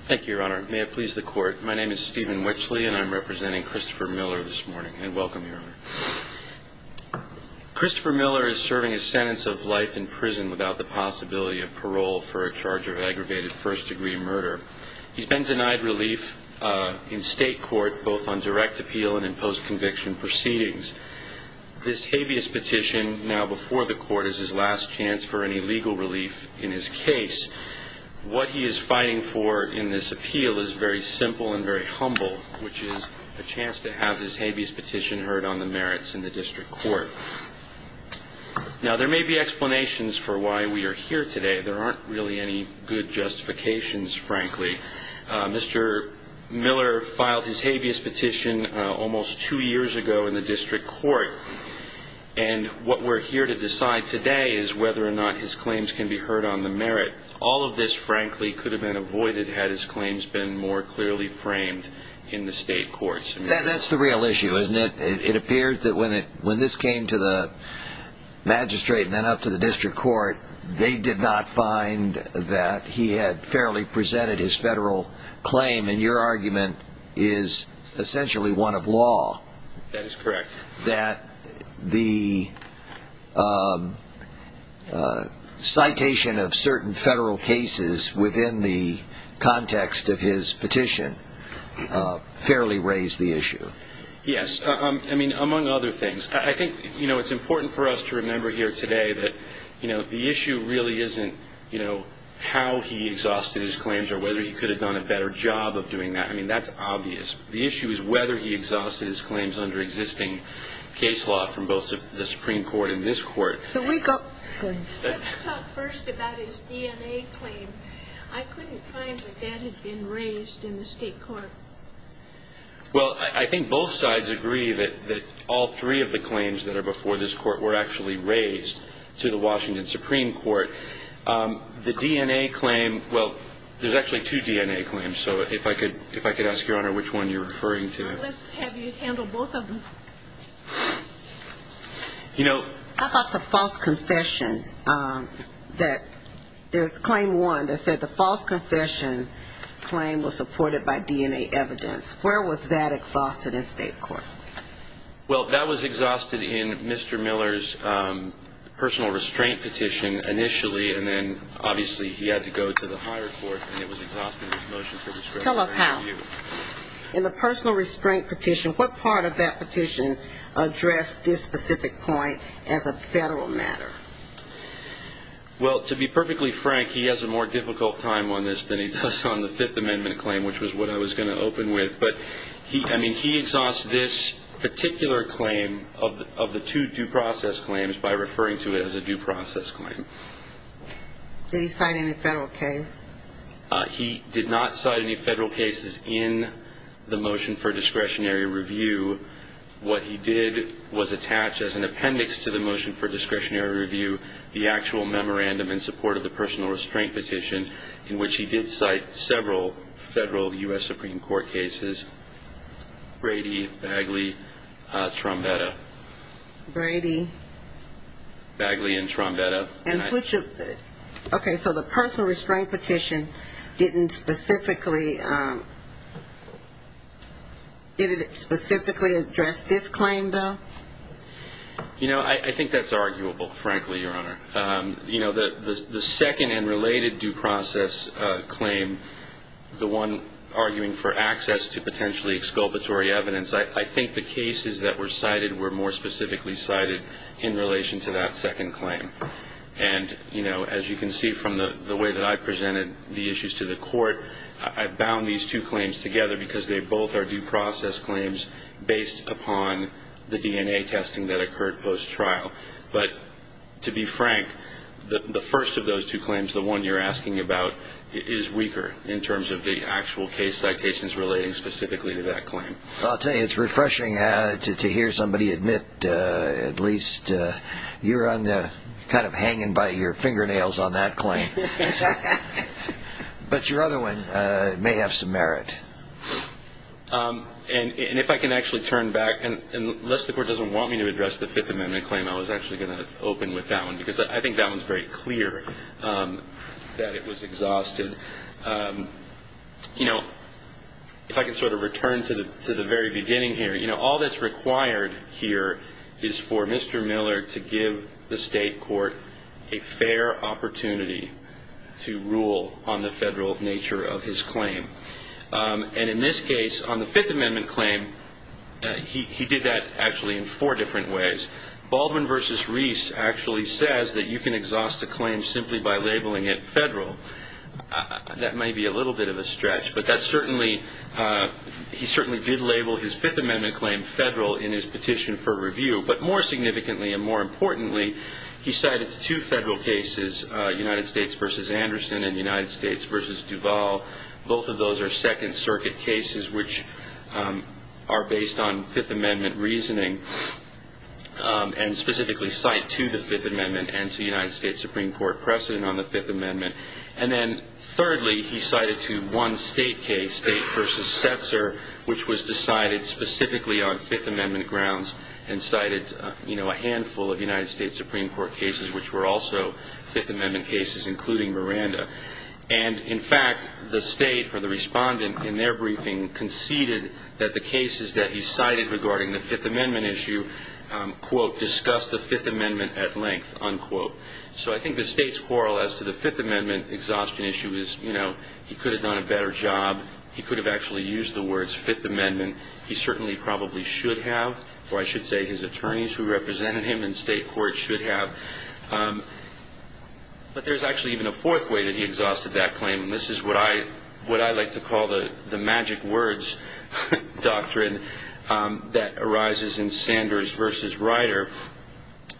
Thank you, Your Honor. May it please the Court. My name is Stephen Wetchley, and I'm representing Christopher Miller this morning, and welcome, Your Honor. Christopher Miller is serving a sentence of life in prison without the possibility of parole for a charge of aggravated first-degree murder. He's been denied relief in state court, both on direct appeal and in post-conviction proceedings. This habeas petition now before the Court is his last chance for any legal relief in his case. What he is fighting for in this appeal is very simple and very humble, which is a chance to have his habeas petition heard on the merits in the district court. Now, there may be explanations for why we are here today. There aren't really any good justifications, frankly. Mr. Miller filed his habeas petition almost two years ago in the district court, and what we're here to decide today is whether or not his claims can be heard on the merit. All of this, frankly, could have been avoided had his claims been more clearly framed in the state courts. That's the real issue, isn't it? It appeared that when this came to the magistrate and then up to the district court, they did not find that he had fairly presented his federal claim, and your argument is essentially one of law. That is correct. That the citation of certain federal cases within the context of his petition fairly raised the issue. Yes. I mean, among other things. I think it's important for us to remember here today that the issue really isn't how he exhausted his claims or whether he could have done a better job of doing that. I mean, that's obvious. The issue is whether he exhausted his claims under existing case law from both the Supreme Court and this Court. Can we go? Go ahead. Let's talk first about his DNA claim. I couldn't find that that had been raised in the state court. Well, I think both sides agree that all three of the claims that are before this Court were actually raised to the Washington Supreme Court. The DNA claim, well, there's actually two DNA claims. So if I could ask, Your Honor, which one you're referring to. Let's have you handle both of them. How about the false confession? There's claim one that said the false confession claim was supported by DNA evidence. Where was that exhausted in state court? Well, that was exhausted in Mr. Miller's personal restraint petition initially, and then obviously he had to go to the higher court, and it was exhausted in his motion for disclosure. Tell us how. In the personal restraint petition, what part of that petition addressed this specific point as a federal matter? Well, to be perfectly frank, he has a more difficult time on this than he does on the Fifth Amendment claim, which was what I was going to open with. But, I mean, he exhausts this particular claim of the two due process claims by referring to it as a due process claim. Did he cite any federal case? He did not cite any federal cases in the motion for discretionary review. What he did was attach as an appendix to the motion for discretionary review the actual memorandum in support of the personal restraint petition in which he did cite several federal U.S. Supreme Court cases, Brady, Bagley, Trombetta. Brady. Bagley and Trombetta. Okay, so the personal restraint petition didn't specifically address this claim, though? I think that's arguable, frankly, Your Honor. You know, the second and related due process claim, the one arguing for access to potentially exculpatory evidence, I think the cases that were cited were more specifically cited in relation to that second claim. And, you know, as you can see from the way that I presented the issues to the court, I've bound these two claims together because they both are due process claims based upon the DNA testing that occurred post-trial. But, to be frank, the first of those two claims, the one you're asking about, is weaker in terms of the actual case citations relating specifically to that claim. I'll tell you, it's refreshing to hear somebody admit at least you're kind of hanging by your fingernails on that claim. But your other one may have some merit. And if I can actually turn back, and unless the court doesn't want me to address the Fifth Amendment claim, I was actually going to open with that one because I think that one's very clear that it was exhausted. You know, if I can sort of return to the very beginning here, you know, All that's required here is for Mr. Miller to give the state court a fair opportunity to rule on the federal nature of his claim. And in this case, on the Fifth Amendment claim, he did that actually in four different ways. Baldwin v. Reese actually says that you can exhaust a claim simply by labeling it federal. That may be a little bit of a stretch, but he certainly did label his Fifth Amendment claim federal in his petition for review. But more significantly and more importantly, he cited two federal cases, United States v. Anderson and United States v. Duval. Both of those are Second Circuit cases which are based on Fifth Amendment reasoning and specifically cite to the Fifth Amendment and to United States Supreme Court precedent on the Fifth Amendment. And then thirdly, he cited to one state case, State v. Setzer, which was decided specifically on Fifth Amendment grounds and cited, you know, a handful of United States Supreme Court cases which were also Fifth Amendment cases, including Miranda. And in fact, the state or the respondent in their briefing conceded that the cases that he cited regarding the Fifth Amendment issue, quote, discuss the Fifth Amendment at length, unquote. So I think the state's quarrel as to the Fifth Amendment exhaustion issue is, you know, he could have done a better job. He could have actually used the words Fifth Amendment. He certainly probably should have, or I should say his attorneys who represented him in state court should have. But there's actually even a fourth way that he exhausted that claim. And this is what I like to call the magic words doctrine that arises in Sanders v. Ryder.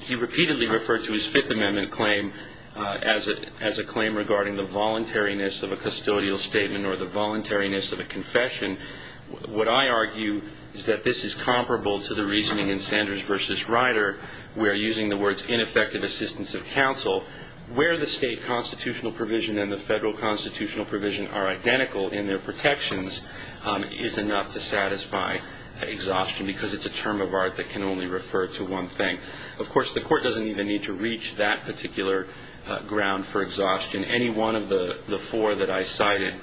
He repeatedly referred to his Fifth Amendment claim as a claim regarding the voluntariness of a custodial statement or the voluntariness of a confession. What I argue is that this is comparable to the reasoning in Sanders v. Ryder where, using the words ineffective assistance of counsel, where the state constitutional provision and the federal constitutional provision are identical in their protections is enough to satisfy exhaustion because it's a term of art that can only refer to one thing. Of course, the court doesn't even need to reach that particular ground for exhaustion. And any one of the four that I cited,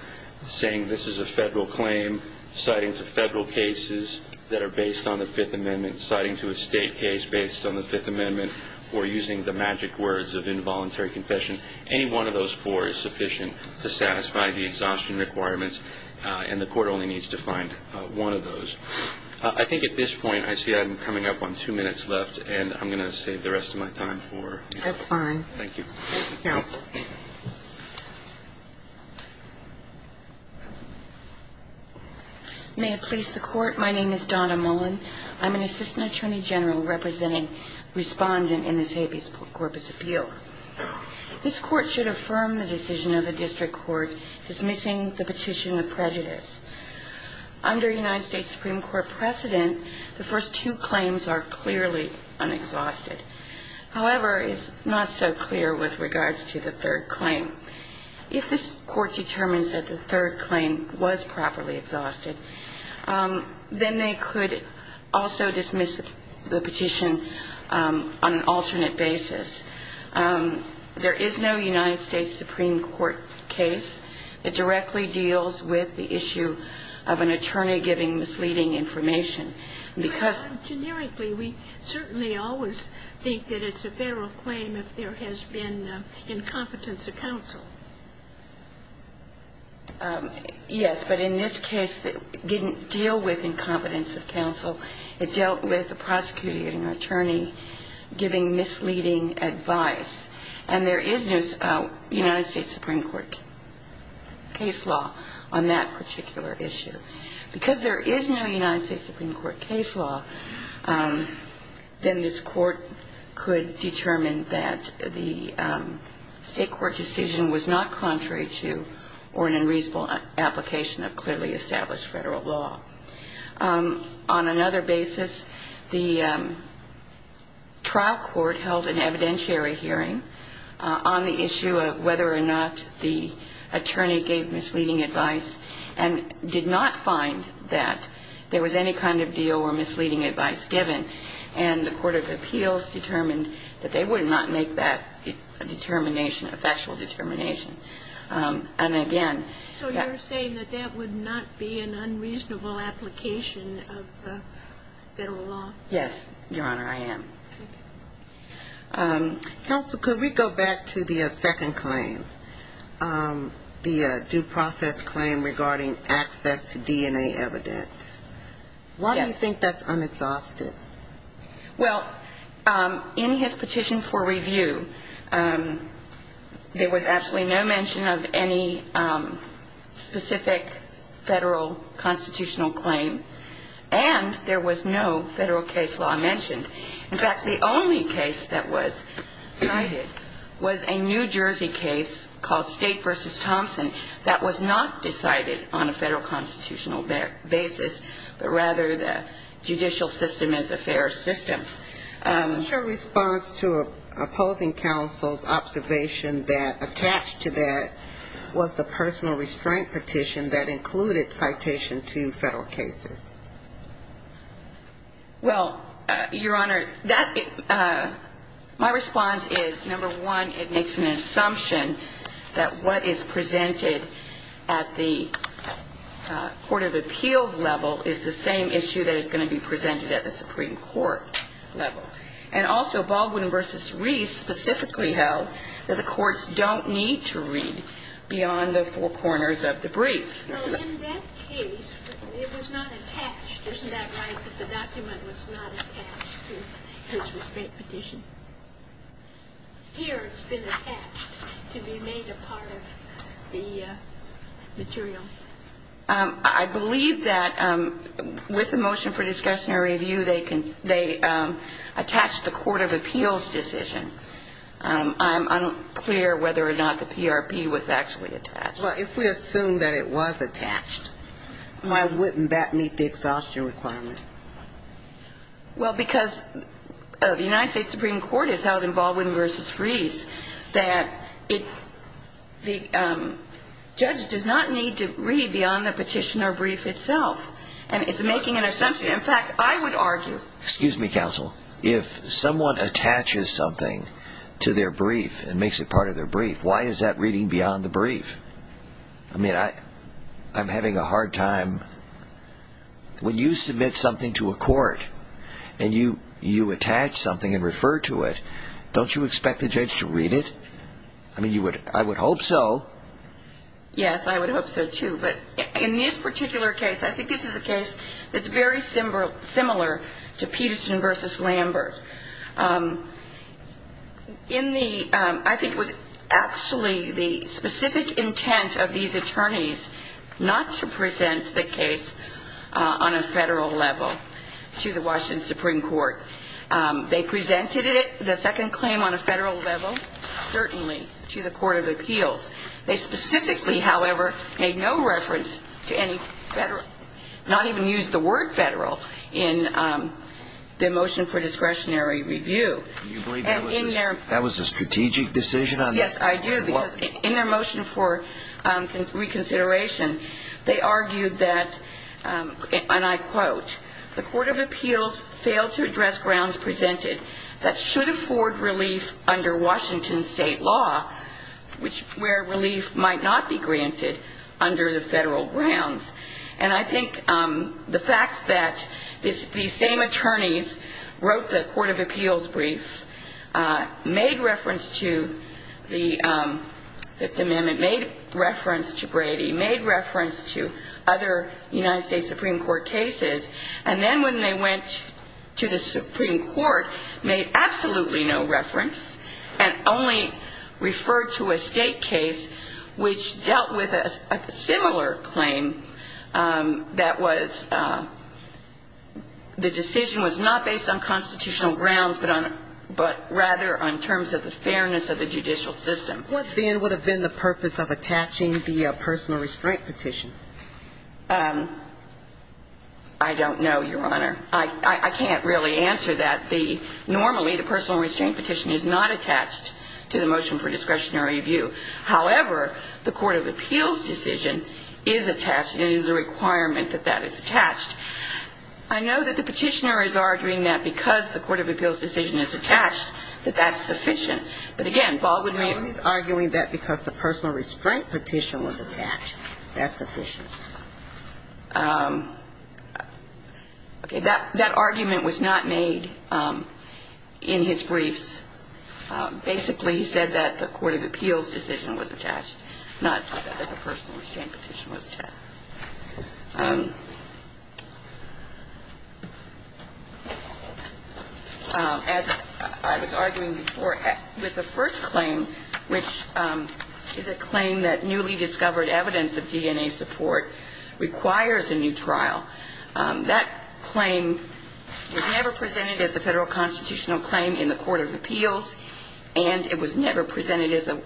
saying this is a federal claim, citing to federal cases that are based on the Fifth Amendment, citing to a state case based on the Fifth Amendment, or using the magic words of involuntary confession, any one of those four is sufficient to satisfy the exhaustion requirements, and the court only needs to find one of those. I think at this point I see I'm coming up on two minutes left, and I'm going to save the rest of my time for... That's fine. Thank you. Counsel. May it please the court, my name is Donna Mullen. I'm an assistant attorney general representing respondent in this habeas corpus appeal. This court should affirm the decision of the district court dismissing the petition of prejudice. Under United States Supreme Court precedent, the first two claims are clearly unexhausted. However, it's not so clear with regards to the third claim. If this court determines that the third claim was properly exhausted, then they could also dismiss the petition on an alternate basis. There is no United States Supreme Court case that directly deals with the issue of an attorney giving misleading information. Generically, we certainly always think that it's a federal claim if there has been incompetence of counsel. Yes, but in this case, it didn't deal with incompetence of counsel. It dealt with a prosecuting attorney giving misleading advice. And there is no United States Supreme Court case law on that particular issue. Because there is no United States Supreme Court case law, then this court could determine that the state court decision was not contrary to or an unreasonable application of clearly established federal law. On another basis, the trial court held an evidentiary hearing on the issue of whether or not the attorney gave misleading advice and did not find that there was any kind of deal or misleading advice given. And the court of appeals determined that they would not make that a determination, a factual determination. And, again, that ---- So you're saying that that would not be an unreasonable application of federal law? Yes, Your Honor, I am. Okay. Counsel, could we go back to the second claim, the due process claim regarding access to DNA evidence? Yes. Why do you think that's unexhausted? Well, in his petition for review, there was absolutely no mention of any specific federal constitutional claim. And there was no federal case law mentioned. In fact, the only case that was cited was a New Jersey case called State v. Thompson that was not decided on a federal constitutional basis, but rather the judicial system is a fair system. Your response to opposing counsel's observation that attached to that was the personal restraint petition that included citation to federal cases. Well, Your Honor, that ---- my response is, number one, it makes an assumption that what is presented at the court of appeals level is the same issue that is going to be presented at the Supreme Court level. And also Baldwin v. Reese specifically held that the courts don't need to read beyond the four corners of the brief. So in that case, it was not attached. Isn't that right, that the document was not attached to his restraint petition? Here it's been attached to be made a part of the material. I believe that with the motion for discussion and review, they attached the court of appeals decision. I'm unclear whether or not the PRP was actually attached. Well, if we assume that it was attached, why wouldn't that meet the exhaustion requirement? Well, because the United States Supreme Court has held in Baldwin v. Reese that the judge does not need to read beyond the petition or brief itself. And it's making an assumption. In fact, I would argue ---- Excuse me, counsel. If someone attaches something to their brief and makes it part of their brief, why is that reading beyond the brief? I mean, I'm having a hard time. When you submit something to a court and you attach something and refer to it, don't you expect the judge to read it? I mean, I would hope so. Yes, I would hope so, too. But in this particular case, I think this is a case that's very similar to Peterson v. Lambert. In the ---- I think it was actually the specific intent of these attorneys not to present the case on a federal level to the Washington Supreme Court. They presented it, the second claim on a federal level, certainly to the court of appeals. They specifically, however, made no reference to any federal ---- not even used the word federal in the motion for discretionary review. Do you believe that was a strategic decision? Yes, I do. Because in their motion for reconsideration, they argued that, and I quote, the court of appeals failed to address grounds presented that should afford relief under Washington state law, where relief might not be granted under the federal grounds. And I think the fact that these same attorneys wrote the court of appeals brief, made reference to the Fifth Amendment, made reference to Brady, made reference to other United States Supreme Court cases, and then when they went to the Supreme Court, made absolutely no reference and only referred to a state case which dealt with a similar claim that was ---- the decision was not based on constitutional grounds, but rather on terms of the fairness of the judicial system. What then would have been the purpose of attaching the personal restraint petition? I don't know, Your Honor. I can't really answer that. Normally, the personal restraint petition is not attached to the motion for discretionary review. However, the court of appeals decision is attached, and it is a requirement that that is attached. I know that the petitioner is arguing that because the court of appeals decision is attached, that that's sufficient. But again, Bob would make ---- He's arguing that because the personal restraint petition was attached, that's sufficient. Okay. That argument was not made in his briefs. Basically, he said that the court of appeals decision was attached, not that the personal restraint petition was attached. As I was arguing before, with the first claim, which is a claim that newly discovered evidence of DNA support requires a new trial, that claim was never presented as a federal constitutional claim in the court of appeals, and it was never presented as a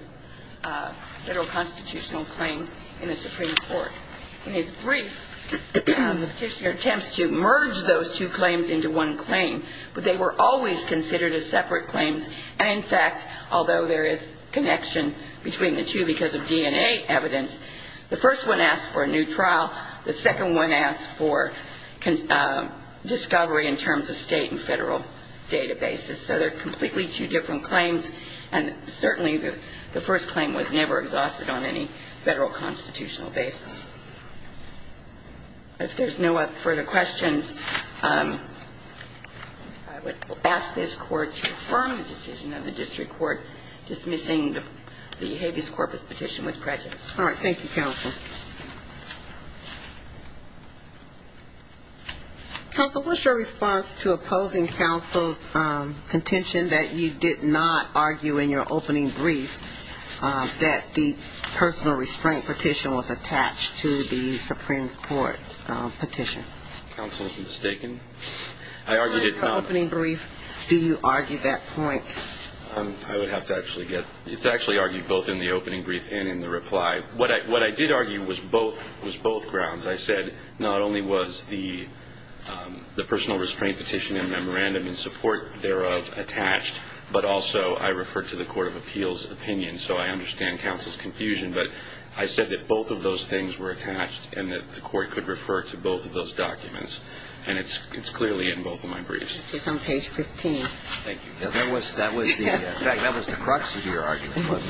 federal constitutional claim in the Supreme Court. In his brief, the petitioner attempts to merge those two claims into one claim, but they were always considered as separate claims. And in fact, although there is connection between the two because of DNA evidence, the first one asks for a new trial. The second one asks for discovery in terms of state and federal databases. So they're completely two different claims, and certainly the first claim was never exhausted on any federal constitutional basis. If there's no further questions, I would ask this court to confirm the decision of the district court dismissing the habeas corpus petition with prejudice. Thank you, counsel. Counsel, what's your response to opposing counsel's contention that you did not argue in your opening brief that the personal restraint petition was attached to the Supreme Court petition? Counsel is mistaken. I argued it not. In your opening brief, do you argue that point? I would have to actually get ‑‑ it's actually argued both in the opening brief and in the reply. What I did argue was both grounds. I said not only was the personal restraint petition and memorandum in support thereof attached, but also I referred to the court of appeals' opinion. So I understand counsel's confusion. But I said that both of those things were attached and that the court could refer to both of those documents. And it's clearly in both of my briefs. It's on page 15. Thank you. That was the crux of your argument.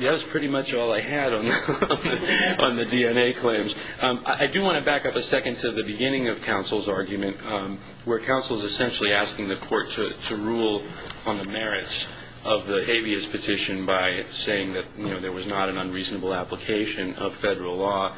That was pretty much all I had on the DNA claims. I do want to back up a second to the beginning of counsel's argument, where counsel is essentially asking the court to rule on the merits of the habeas petition by saying that there was not an unreasonable application of federal law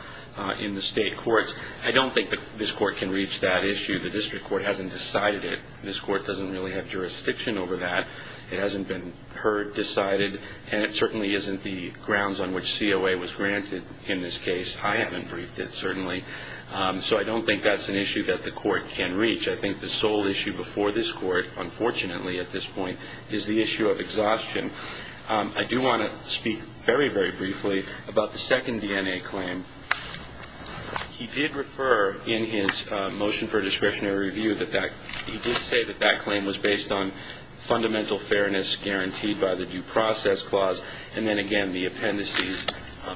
in the state courts. I don't think this court can reach that issue. The district court hasn't decided it. This court doesn't really have jurisdiction over that. It hasn't been heard, decided, and it certainly isn't the grounds on which COA was granted in this case. I haven't briefed it, certainly. So I don't think that's an issue that the court can reach. I think the sole issue before this court, unfortunately at this point, is the issue of exhaustion. I do want to speak very, very briefly about the second DNA claim. He did refer in his motion for discretionary review, he did say that that claim was based on fundamental fairness guaranteed by the due process clause, and then again the appendices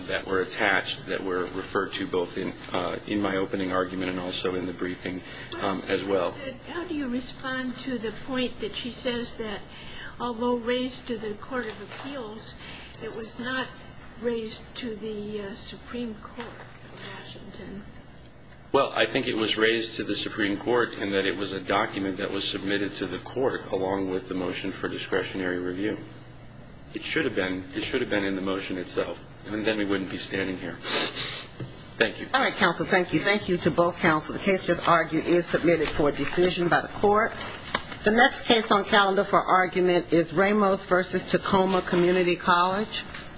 that were attached that were referred to both in my opening argument and also in the briefing as well. How do you respond to the point that she says that although raised to the court of appeals, it was not raised to the Supreme Court in Washington? Well, I think it was raised to the Supreme Court in that it was a document that was submitted to the court along with the motion for discretionary review. It should have been. It should have been in the motion itself, and then we wouldn't be standing here. Thank you. All right, counsel, thank you. Thank you to both counsel. The case just argued is submitted for decision by the court. The next case on calendar for argument is Ramos v. Tacoma Community College.